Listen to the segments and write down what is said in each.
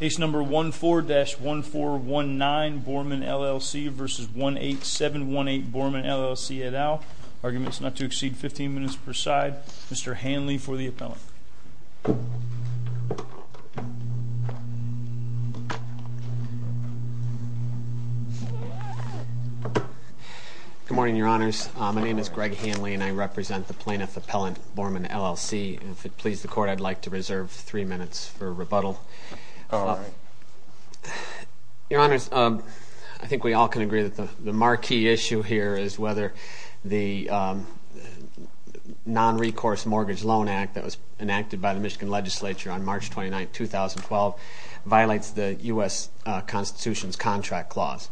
Case number 14-1419 Borman LLC v. 18718 Borman LLC et al. Arguments not to exceed 15 minutes per side. Mr. Hanley for the appellant. Good morning, your honors, my name is Greg Hanley and I represent the plaintiff appellant Borman LLC and if it please the court I'd like to reserve three minutes for rebuttal. Your honors, I think we all can agree that the marquee issue here is whether the non-recourse mortgage loan act that was enacted by the Michigan legislature on March 29, 2012 violates the U.S. Constitution's contract clause.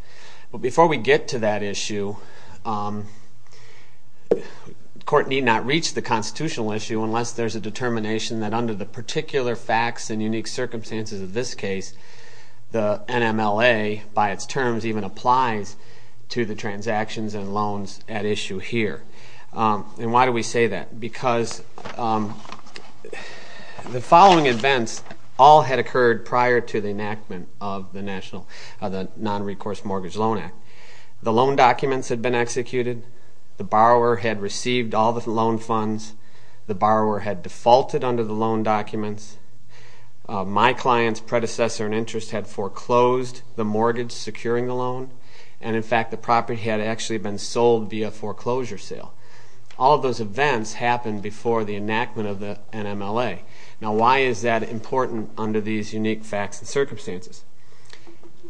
Before we get to that issue, the court need not reach the constitutional issue unless there's a determination that under the particular facts and unique circumstances of this case the NMLA by its terms even applies to the transactions and loans at issue here. Why do we say that? Because the following events all had occurred prior to the enactment of the non-recourse mortgage loan act. The loan documents had been executed, the borrower had received all the loan funds, the borrower had defaulted under the loan documents, my client's predecessor in interest had foreclosed the mortgage securing the loan, and in fact the property had actually been sold via foreclosure sale. All of those events happened before the enactment of the NMLA. Now why is that important under these unique facts and circumstances?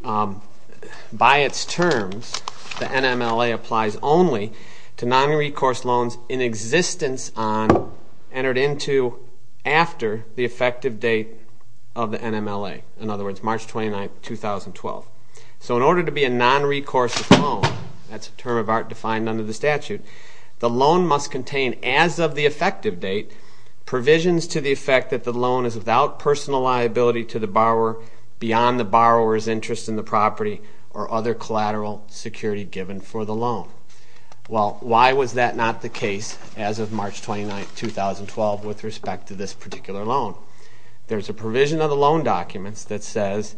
By its terms, the NMLA applies only to non-recourse loans in existence on, entered into, after the effective date of the NMLA, in other words, March 29, 2012. So in order to be a non-recourse loan, that's a term of art defined under the statute, the loan must contain, as of the effective date, provisions to the effect that the loan is without personal liability to the borrower beyond the borrower's interest in the property or other collateral security given for the loan. Well, why was that not the case as of March 29, 2012 with respect to this particular loan? There's a provision of the loan documents that says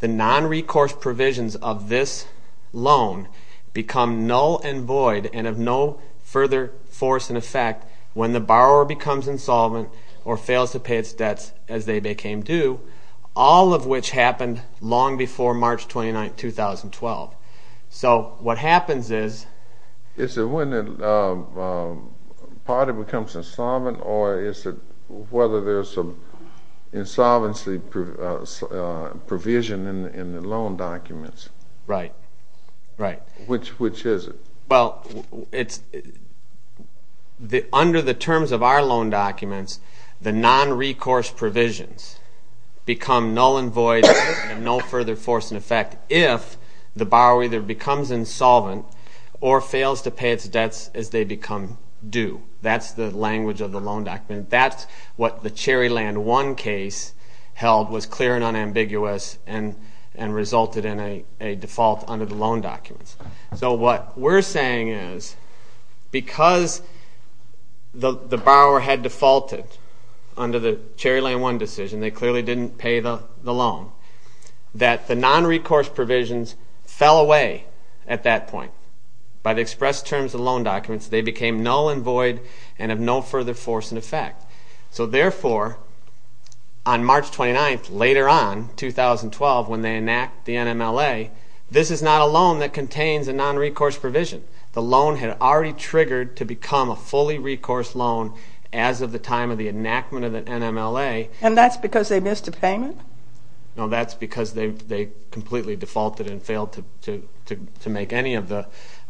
the non-recourse provisions of this loan become null and void and of no further force and effect when the borrower becomes insolvent or fails to pay its debts as they became due, all of which happened long before March 29, 2012. So what happens is... So there's an insolvency provision in the loan documents. Right. Right. Which is it? Well, under the terms of our loan documents, the non-recourse provisions become null and void and of no further force and effect if the borrower either becomes insolvent or fails to pay its debts as they become due. That's the language of the loan document. And that's what the Cherryland One case held was clear and unambiguous and resulted in a default under the loan documents. So what we're saying is because the borrower had defaulted under the Cherryland One decision, they clearly didn't pay the loan, that the non-recourse provisions fell away at that point. By the express terms of the loan documents, they became null and void and of no further force and effect. So therefore, on March 29, later on, 2012, when they enact the NMLA, this is not a loan that contains a non-recourse provision. The loan had already triggered to become a fully recourse loan as of the time of the enactment of the NMLA. And that's because they missed a payment? No, that's because they completely defaulted and failed to make any of the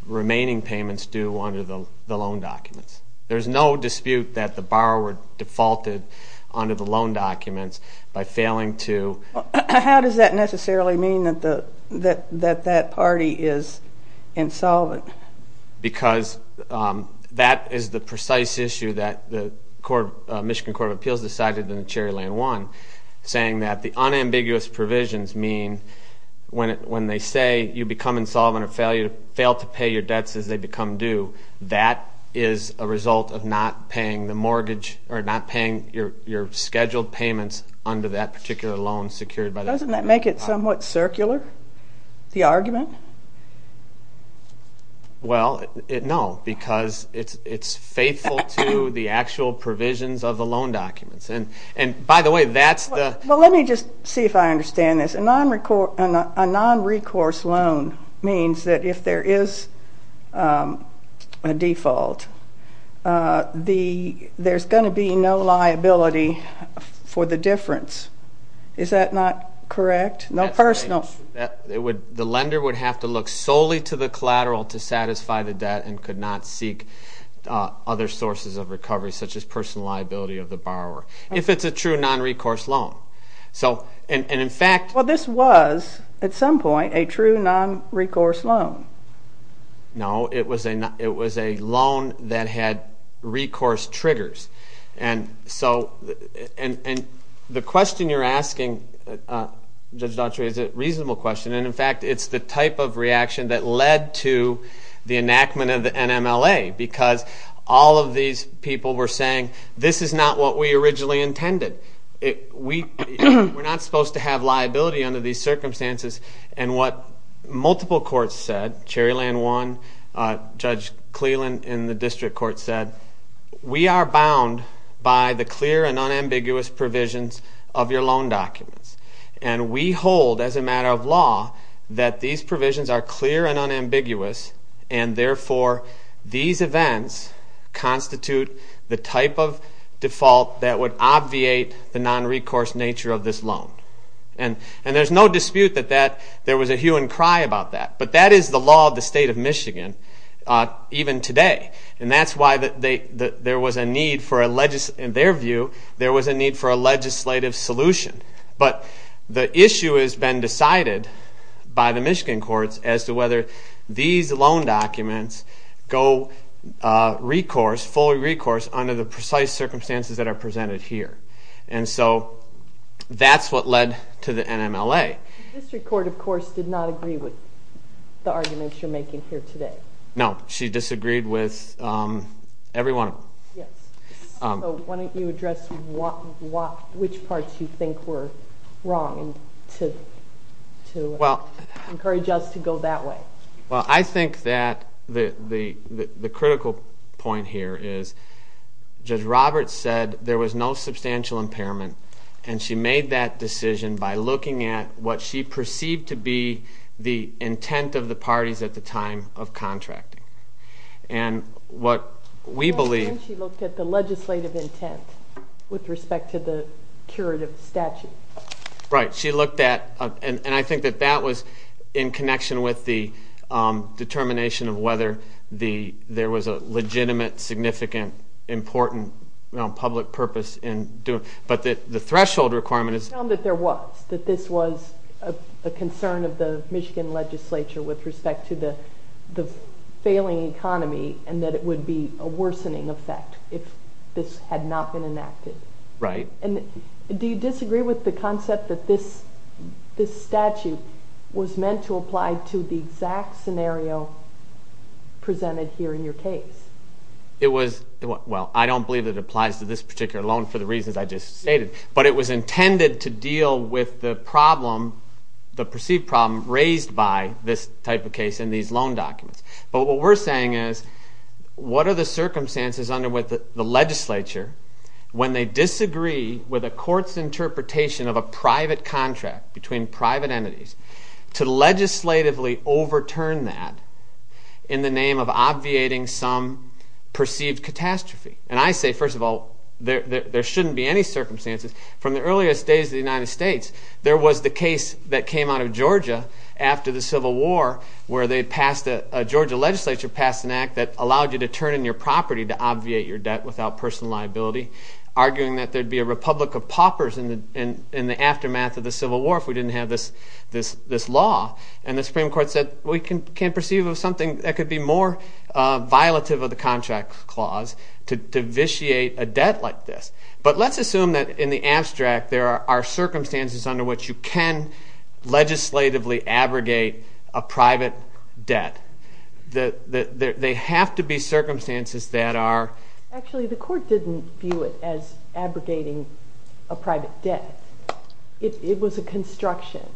remaining payments due under the loan documents. There's no dispute that the borrower defaulted under the loan documents by failing to... How does that necessarily mean that that party is insolvent? Because that is the precise issue that the Michigan Court of Appeals decided in the Cherryland One, saying that the unambiguous provisions mean when they say you become insolvent or a result of not paying the mortgage or not paying your scheduled payments under that particular loan secured by the... Doesn't that make it somewhat circular, the argument? Well, no, because it's faithful to the actual provisions of the loan documents. And by the way, that's the... Well, let me just see if I understand this. A non-recourse loan means that if there is a default, there's going to be no liability for the difference. Is that not correct? No personal... That's right. The lender would have to look solely to the collateral to satisfy the debt and could not seek other sources of recovery, such as personal liability of the borrower, if it's a true non-recourse loan. So, and in fact... Well, this was at some point a true non-recourse loan. No, it was a loan that had recourse triggers. And so, and the question you're asking, Judge Daughtry, is a reasonable question. And in fact, it's the type of reaction that led to the enactment of the NMLA. Because all of these people were saying, this is not what we originally intended. We're not supposed to have liability under these circumstances. And what multiple courts said, Cherryland One, Judge Cleland in the district court said, we are bound by the clear and unambiguous provisions of your loan documents. And we hold, as a matter of law, that these provisions are clear and unambiguous. And therefore, these events constitute the type of default that would obviate the non-recourse nature of this loan. And there's no dispute that there was a hue and cry about that. But that is the law of the state of Michigan, even today. And that's why there was a need for a, in their view, there was a need for a legislative solution. But the issue has been decided by the Michigan courts as to whether these loan documents go recourse, fully recourse, under the precise circumstances that are presented here. And so that's what led to the NMLA. The district court, of course, did not agree with the arguments you're making here today. No. She disagreed with every one of them. Yes. So why don't you address which parts you think were wrong to encourage us to go that way? Well, I think that the critical point here is Judge Roberts said there was no substantial impairment. And she made that decision by looking at what she perceived to be the intent of the parties at the time of contracting. And what we believe... And she looked at the legislative intent with respect to the curative statute. Right. She looked at... And I think that that was in connection with the determination of whether there was a legitimate, significant, important public purpose in doing... But the threshold requirement is... We know that there was, that this was a concern of the Michigan legislature with respect to the failing economy and that it would be a worsening effect if this had not been enacted. Right. And do you disagree with the concept that this statute was meant to apply to the exact scenario presented here in your case? It was... Well, I don't believe it applies to this particular loan for the reasons I just stated. But it was intended to deal with the problem, the perceived problem, raised by this type of case and these loan documents. But what we're saying is, what are the circumstances under which the legislature, when they disagree with a court's interpretation of a private contract between private entities, to legislatively overturn that in the name of obviating some perceived catastrophe? And I say, first of all, there shouldn't be any circumstances. From the earliest days of the United States, there was the case that came out of Georgia after the Civil War where they passed a... A Georgia legislature passed an act that allowed you to turn in your property to obviate your debt without personal liability, arguing that there would be a republic of paupers in the aftermath of the Civil War if we didn't have this law. And the Supreme Court said, well, we can't perceive of something that could be more violative of the contract clause to vitiate a debt like this. But let's assume that in the abstract there are circumstances under which you can legislatively abrogate a private debt. There have to be circumstances that are... Actually, the court didn't view it as abrogating a private debt. It was a construction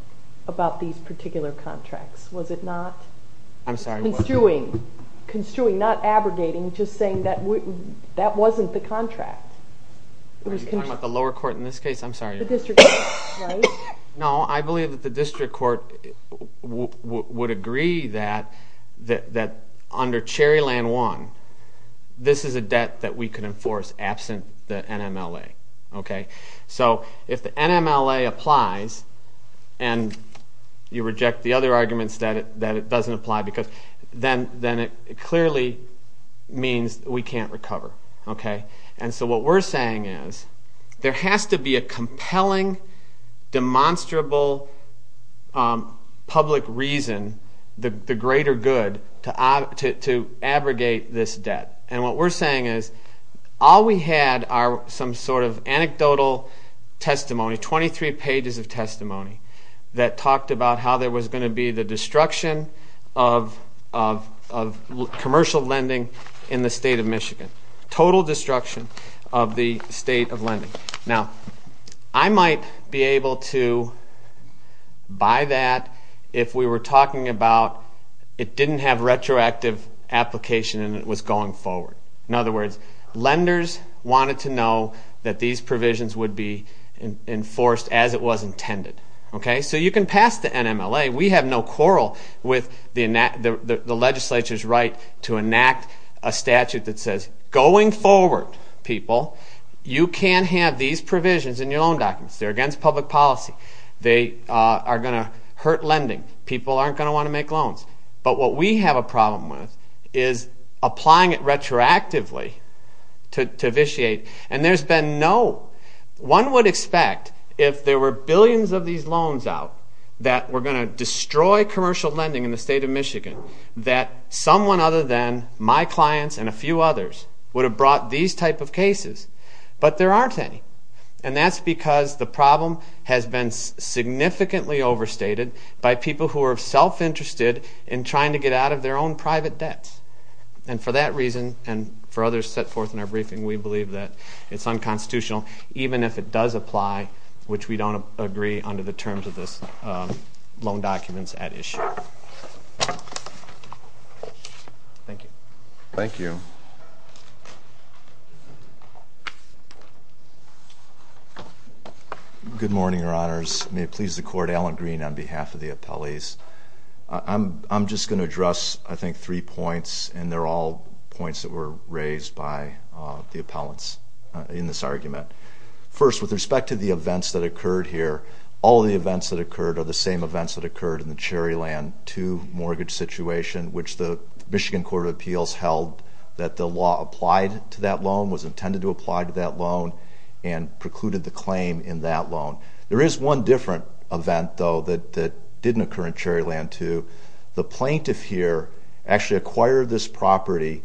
about these particular contracts. Was it not construing, not abrogating, just saying that that wasn't the contract? Are you talking about the lower court in this case? I'm sorry. The district court, right? No, I believe that the district court would agree that under Cherryland I, this is a debt that we can enforce absent the NMLA. So if the NMLA applies and you reject the other arguments that it doesn't apply, then it clearly means we can't recover. And so what we're saying is there has to be a compelling, demonstrable public reason, the greater good, to abrogate this debt. And what we're saying is all we had are some sort of anecdotal testimony, 23 pages of testimony that talked about how there was going to be the destruction of commercial lending in the state of Michigan, total destruction of the state of lending. Now, I might be able to buy that if we were talking about it didn't have retroactive application and it was going forward. In other words, lenders wanted to know that these provisions would be enforced as it was intended. So you can pass the NMLA. We have no quarrel with the legislature's right to enact a statute that says, going forward, people, you can have these provisions in your loan documents. They're against public policy. They are going to hurt lending. People aren't going to want to make loans. But what we have a problem with is applying it retroactively to vitiate. And there's been no... One would expect if there were billions of these loans out that were going to destroy commercial lending in the state of Michigan that someone other than my clients and a few others would have brought these type of cases. But there aren't any. And that's because the problem has been significantly overstated by people who are self-interested in trying to get out of their own private debts. And for that reason, and for others set forth in our briefing, we believe that it's unconstitutional even if it does apply, which we don't agree under the terms of this loan documents at issue. Thank you. Thank you. Good morning, Your Honors. May it please the Court, Alan Green on behalf of the appellees. I'm just going to address, I think, three points, and they're all points that were raised by the appellants in this argument. First, with respect to the events that occurred here, all the events that occurred are the same events that occurred in the Cherryland 2 mortgage situation, which the Michigan Court of Appeals held that the law applied to that loan, was intended to apply to that loan, and precluded the claim in that loan. There is one different event, though, that didn't occur in Cherryland 2. The plaintiff here actually acquired this property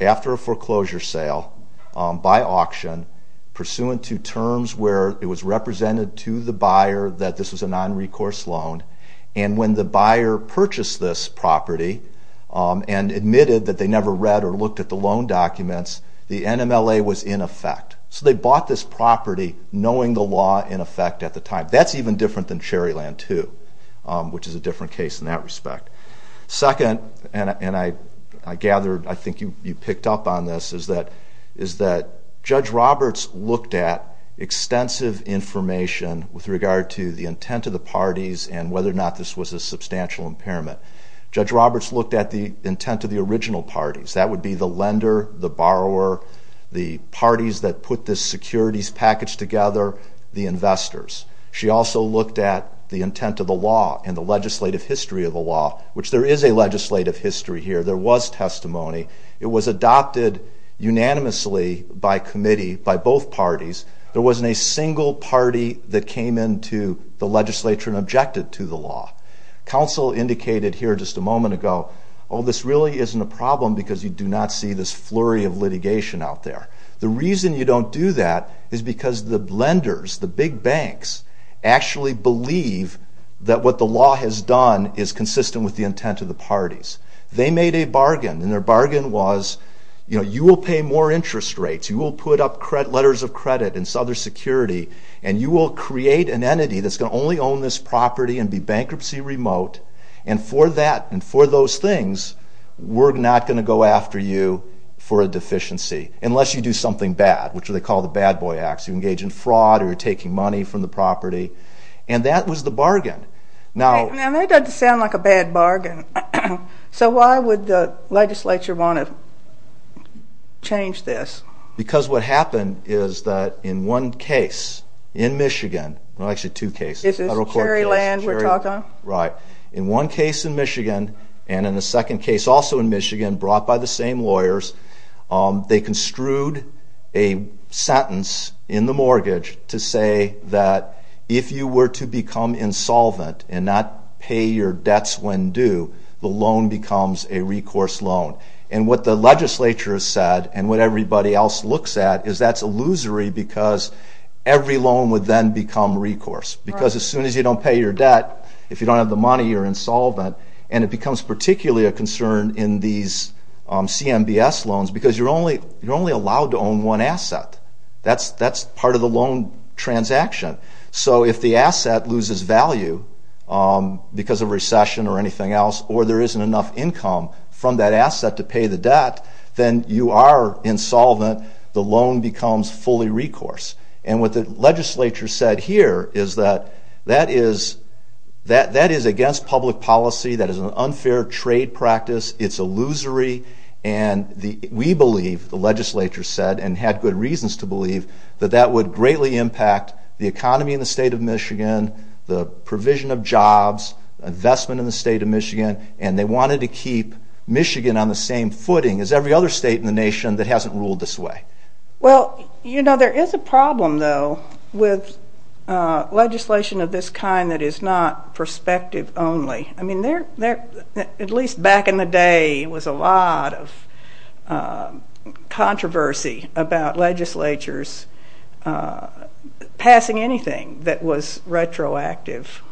after a foreclosure sale by auction, pursuant to terms where it was represented to the buyer that this was a non-recourse loan. And when the buyer purchased this property and admitted that they never read or looked at the loan documents, the NMLA was in effect. So they bought this property knowing the law in effect at the time. That's even different than Cherryland 2, which is a different case in that respect. Second, and I gathered, I think you picked up on this, is that Judge Roberts looked at extensive information with regard to the intent of the parties and whether or not this was a substantial impairment. Judge Roberts looked at the intent of the original parties. That would be the lender, the borrower, the parties that put this securities package together, the investors. She also looked at the intent of the law and the legislative history of the law, which there is a legislative history here. There was testimony. It was adopted unanimously by committee by both parties. There wasn't a single party that came into the legislature and objected to the law. Counsel indicated here just a moment ago, oh, this really isn't a problem because you do not see this flurry of litigation out there. The reason you don't do that is because the lenders, the big banks, actually believe that what the law has done is consistent with the intent of the parties. They made a bargain, and their bargain was, you know, you will pay more interest rates. You will put up letters of credit and other security, and you will create an entity that's going to only own this property and be bankruptcy remote. And for that and for those things, we're not going to go after you for a deficiency, unless you do something bad, which they call the bad boy acts. You engage in fraud or you're taking money from the property. And that was the bargain. Now, that doesn't sound like a bad bargain. So why would the legislature want to change this? Because what happened is that in one case in Michigan, well, actually two cases. Is this Cherry Land we're talking about? Right. In one case in Michigan and in a second case also in Michigan brought by the same lawyers, they construed a sentence in the mortgage to say that if you were to become insolvent and not pay your debts when due, the loan becomes a recourse loan. And what the legislature has said and what everybody else looks at is that's illusory because every loan would then become recourse. Because as soon as you don't pay your debt, if you don't have the money, you're insolvent. And it becomes particularly a concern in these CMBS loans because you're only allowed to own one asset. That's part of the loan transaction. So if the asset loses value because of recession or anything else or there isn't enough income from that asset to pay the debt, then you are insolvent. The loan becomes fully recourse. And what the legislature said here is that that is against public policy. That is an unfair trade practice. It's illusory. That that would greatly impact the economy in the state of Michigan, the provision of jobs, investment in the state of Michigan, and they wanted to keep Michigan on the same footing as every other state in the nation that hasn't ruled this way. Well, you know, there is a problem, though, with legislation of this kind that is not perspective only. I mean, at least back in the day, there was a lot of controversy about legislatures passing anything that was retroactive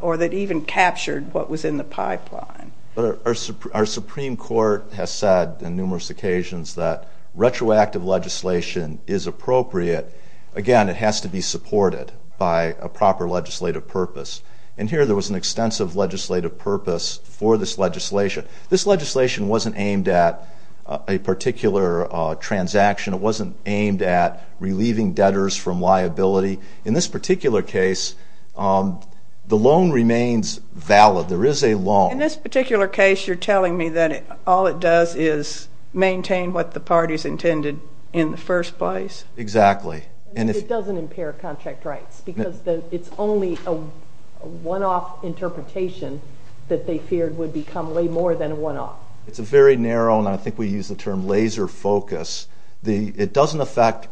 or that even captured what was in the pipeline. Our Supreme Court has said on numerous occasions that retroactive legislation is appropriate. Again, it has to be supported by a proper legislative purpose. And here there was an extensive legislative purpose for this legislation. This legislation wasn't aimed at a particular transaction. It wasn't aimed at relieving debtors from liability. In this particular case, the loan remains valid. There is a loan. In this particular case, you're telling me that all it does is maintain what the parties intended in the first place? Exactly. It doesn't impair contract rights because it's only a one-off interpretation that they feared would become way more than a one-off. It's very narrow, and I think we use the term laser focus. It doesn't affect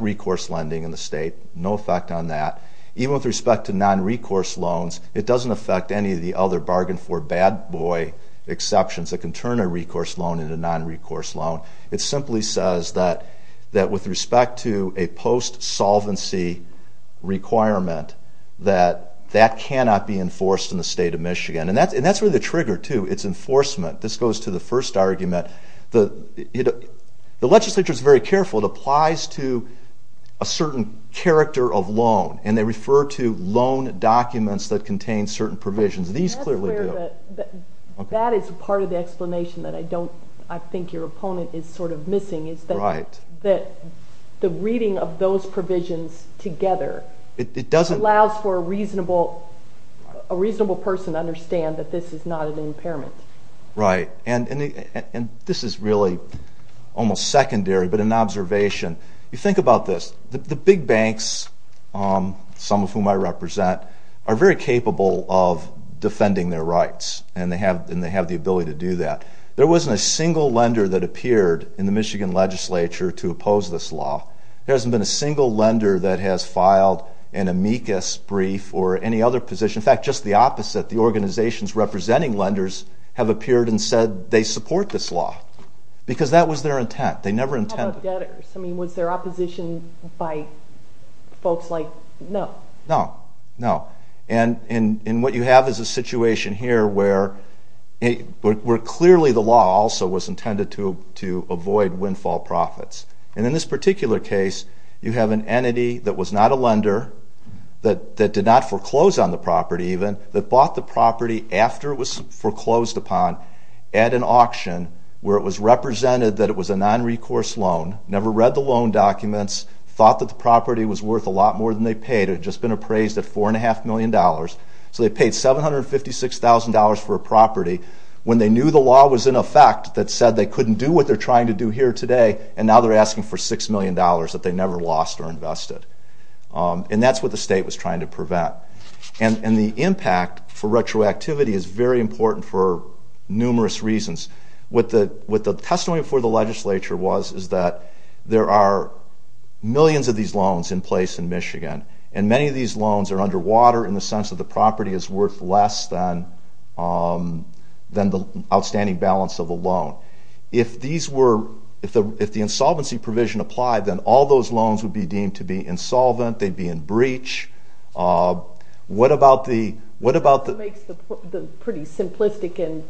recourse lending in the state, no effect on that. Even with respect to non-recourse loans, it doesn't affect any of the other bargain for bad boy exceptions that can turn a recourse loan into a non-recourse loan. It simply says that with respect to a post-solvency requirement, that that cannot be enforced in the state of Michigan. And that's really the trigger, too. It's enforcement. This goes to the first argument. The legislature is very careful. It applies to a certain character of loan, and they refer to loan documents that contain certain provisions. These clearly do. That is part of the explanation that I think your opponent is sort of missing, is that the reading of those provisions together allows for a reasonable person to understand that this is not an impairment. Right, and this is really almost secondary, but an observation. You think about this. The big banks, some of whom I represent, are very capable of defending their rights, and they have the ability to do that. There wasn't a single lender that appeared in the Michigan legislature to oppose this law. There hasn't been a single lender that has filed an amicus brief or any other position. In fact, just the opposite. The organizations representing lenders have appeared and said they support this law because that was their intent. How about debtors? I mean, was there opposition by folks like? No. No, no. And what you have is a situation here where clearly the law also was intended to avoid windfall profits. And in this particular case, you have an entity that was not a lender, that did not foreclose on the property even, that bought the property after it was foreclosed upon at an auction where it was represented that it was a nonrecourse loan, never read the loan documents, thought that the property was worth a lot more than they paid. It had just been appraised at $4.5 million. So they paid $756,000 for a property when they knew the law was in effect that said they couldn't do what they're trying to do here today, and now they're asking for $6 million that they never lost or invested. And that's what the state was trying to prevent. And the impact for retroactivity is very important for numerous reasons. What the testimony before the legislature was is that there are millions of these loans in place in Michigan, and many of these loans are underwater in the sense that the property is worth less than the outstanding balance of the loan. If the insolvency provision applied, then all those loans would be deemed to be insolvent, they'd be in breach. That makes the pretty simplistic and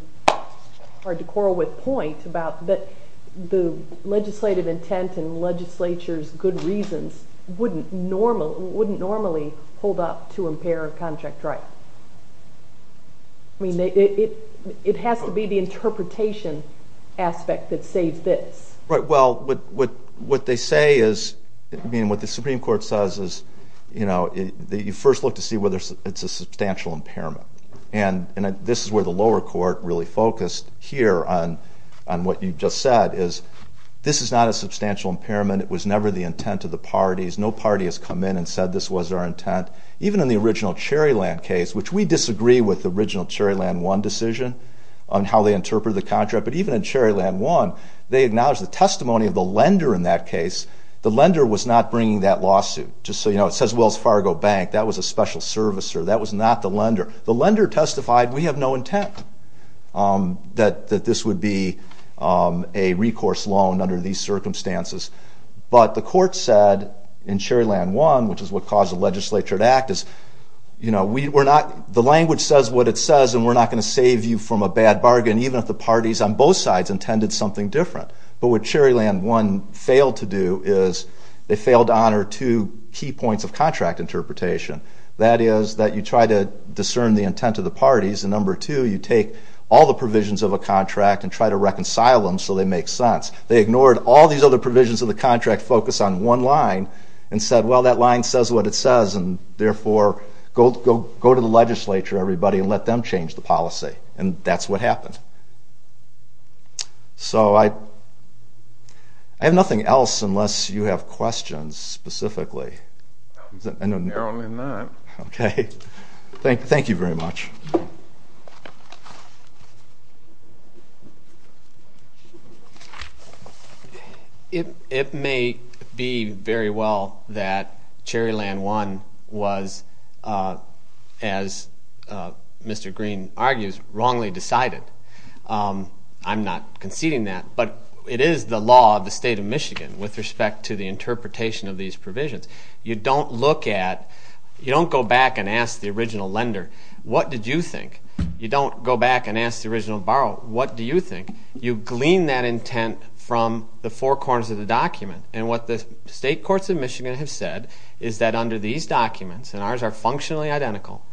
hard to quarrel with point about the legislative intent and legislature's good reasons wouldn't normally hold up to impair a contract right. I mean, it has to be the interpretation aspect that saves this. Well, what they say is, I mean, what the Supreme Court says is, you know, you first look to see whether it's a substantial impairment. And this is where the lower court really focused here on what you just said, is this is not a substantial impairment. It was never the intent of the parties. No party has come in and said this was our intent. Even in the original Cherryland case, which we disagree with the original Cherryland One decision on how they interpreted the contract, but even in Cherryland One, they acknowledged the testimony of the lender in that case. The lender was not bringing that lawsuit. Just so you know, it says Wells Fargo Bank. That was a special servicer. That was not the lender. The lender testified we have no intent that this would be a recourse loan under these circumstances. But the court said in Cherryland One, which is what caused the legislature to act, is, you know, we're not, the language says what it says, and we're not going to save you from a bad bargain, even if the parties on both sides intended something different. But what Cherryland One failed to do is, they failed to honor two key points of contract interpretation. That is that you try to discern the intent of the parties, and number two, you take all the provisions of a contract and try to reconcile them so they make sense. They ignored all these other provisions of the contract, focused on one line, and said, well, that line says what it says, and therefore go to the legislature, everybody, and let them change the policy. And that's what happened. So I have nothing else unless you have questions specifically. Apparently not. Okay. Thank you very much. Thank you. It may be very well that Cherryland One was, as Mr. Green argues, wrongly decided. I'm not conceding that, but it is the law of the state of Michigan with respect to the interpretation of these provisions. You don't look at, you don't go back and ask the original lender, what did you think? You don't go back and ask the original borrower, what do you think? You glean that intent from the four corners of the document. And what the state courts of Michigan have said is that under these documents, and ours are functionally identical,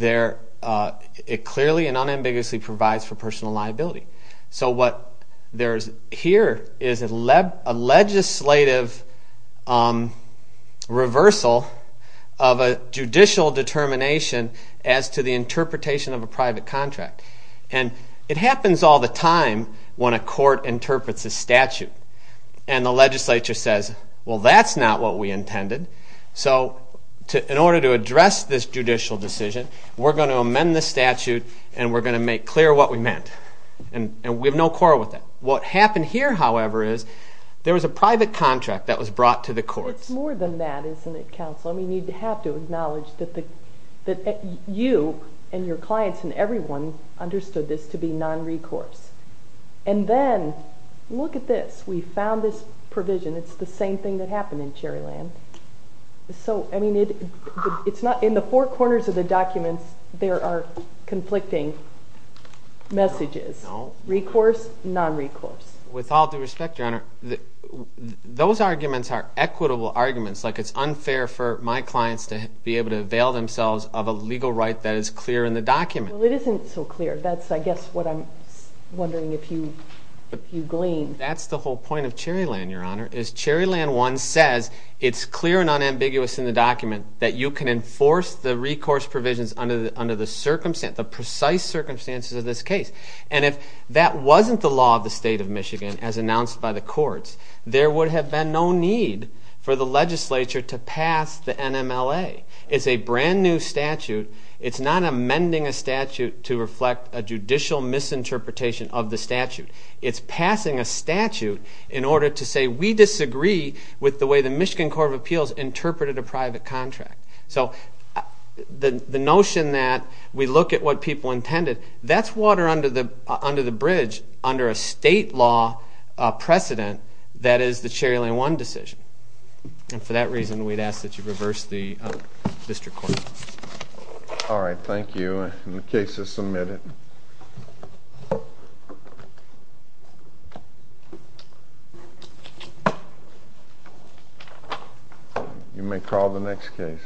it clearly and unambiguously provides for personal liability. So what there is here is a legislative reversal of a judicial determination as to the interpretation of a private contract. And it happens all the time when a court interprets a statute and the legislature says, well, that's not what we intended. So in order to address this judicial decision, we're going to amend the statute and we're going to make clear what we meant. And we have no quarrel with that. What happened here, however, is there was a private contract that was brought to the courts. It's more than that, isn't it, counsel? I mean, you have to acknowledge that you and your clients and everyone understood this to be non-recourse. And then look at this. We found this provision. It's the same thing that happened in Cherryland. So, I mean, it's not in the four corners of the documents there are conflicting messages, recourse, non-recourse. With all due respect, Your Honor, those arguments are equitable arguments. Like it's unfair for my clients to be able to avail themselves of a legal right that is clear in the document. Well, it isn't so clear. That's, I guess, what I'm wondering if you glean. That's the whole point of Cherryland, Your Honor, is Cherryland 1 says it's clear and unambiguous in the document that you can enforce the recourse provisions under the circumstance, the precise circumstances of this case. And if that wasn't the law of the State of Michigan, as announced by the courts, there would have been no need for the legislature to pass the NMLA. It's a brand-new statute. It's not amending a statute to reflect a judicial misinterpretation of the statute. It's passing a statute in order to say we disagree with the way the Michigan Court of Appeals interpreted a private contract. So the notion that we look at what people intended, that's water under the bridge under a state law precedent that is the Cherryland 1 decision. And for that reason, we'd ask that you reverse the district court. All right, thank you. The case is submitted. You may call the next case.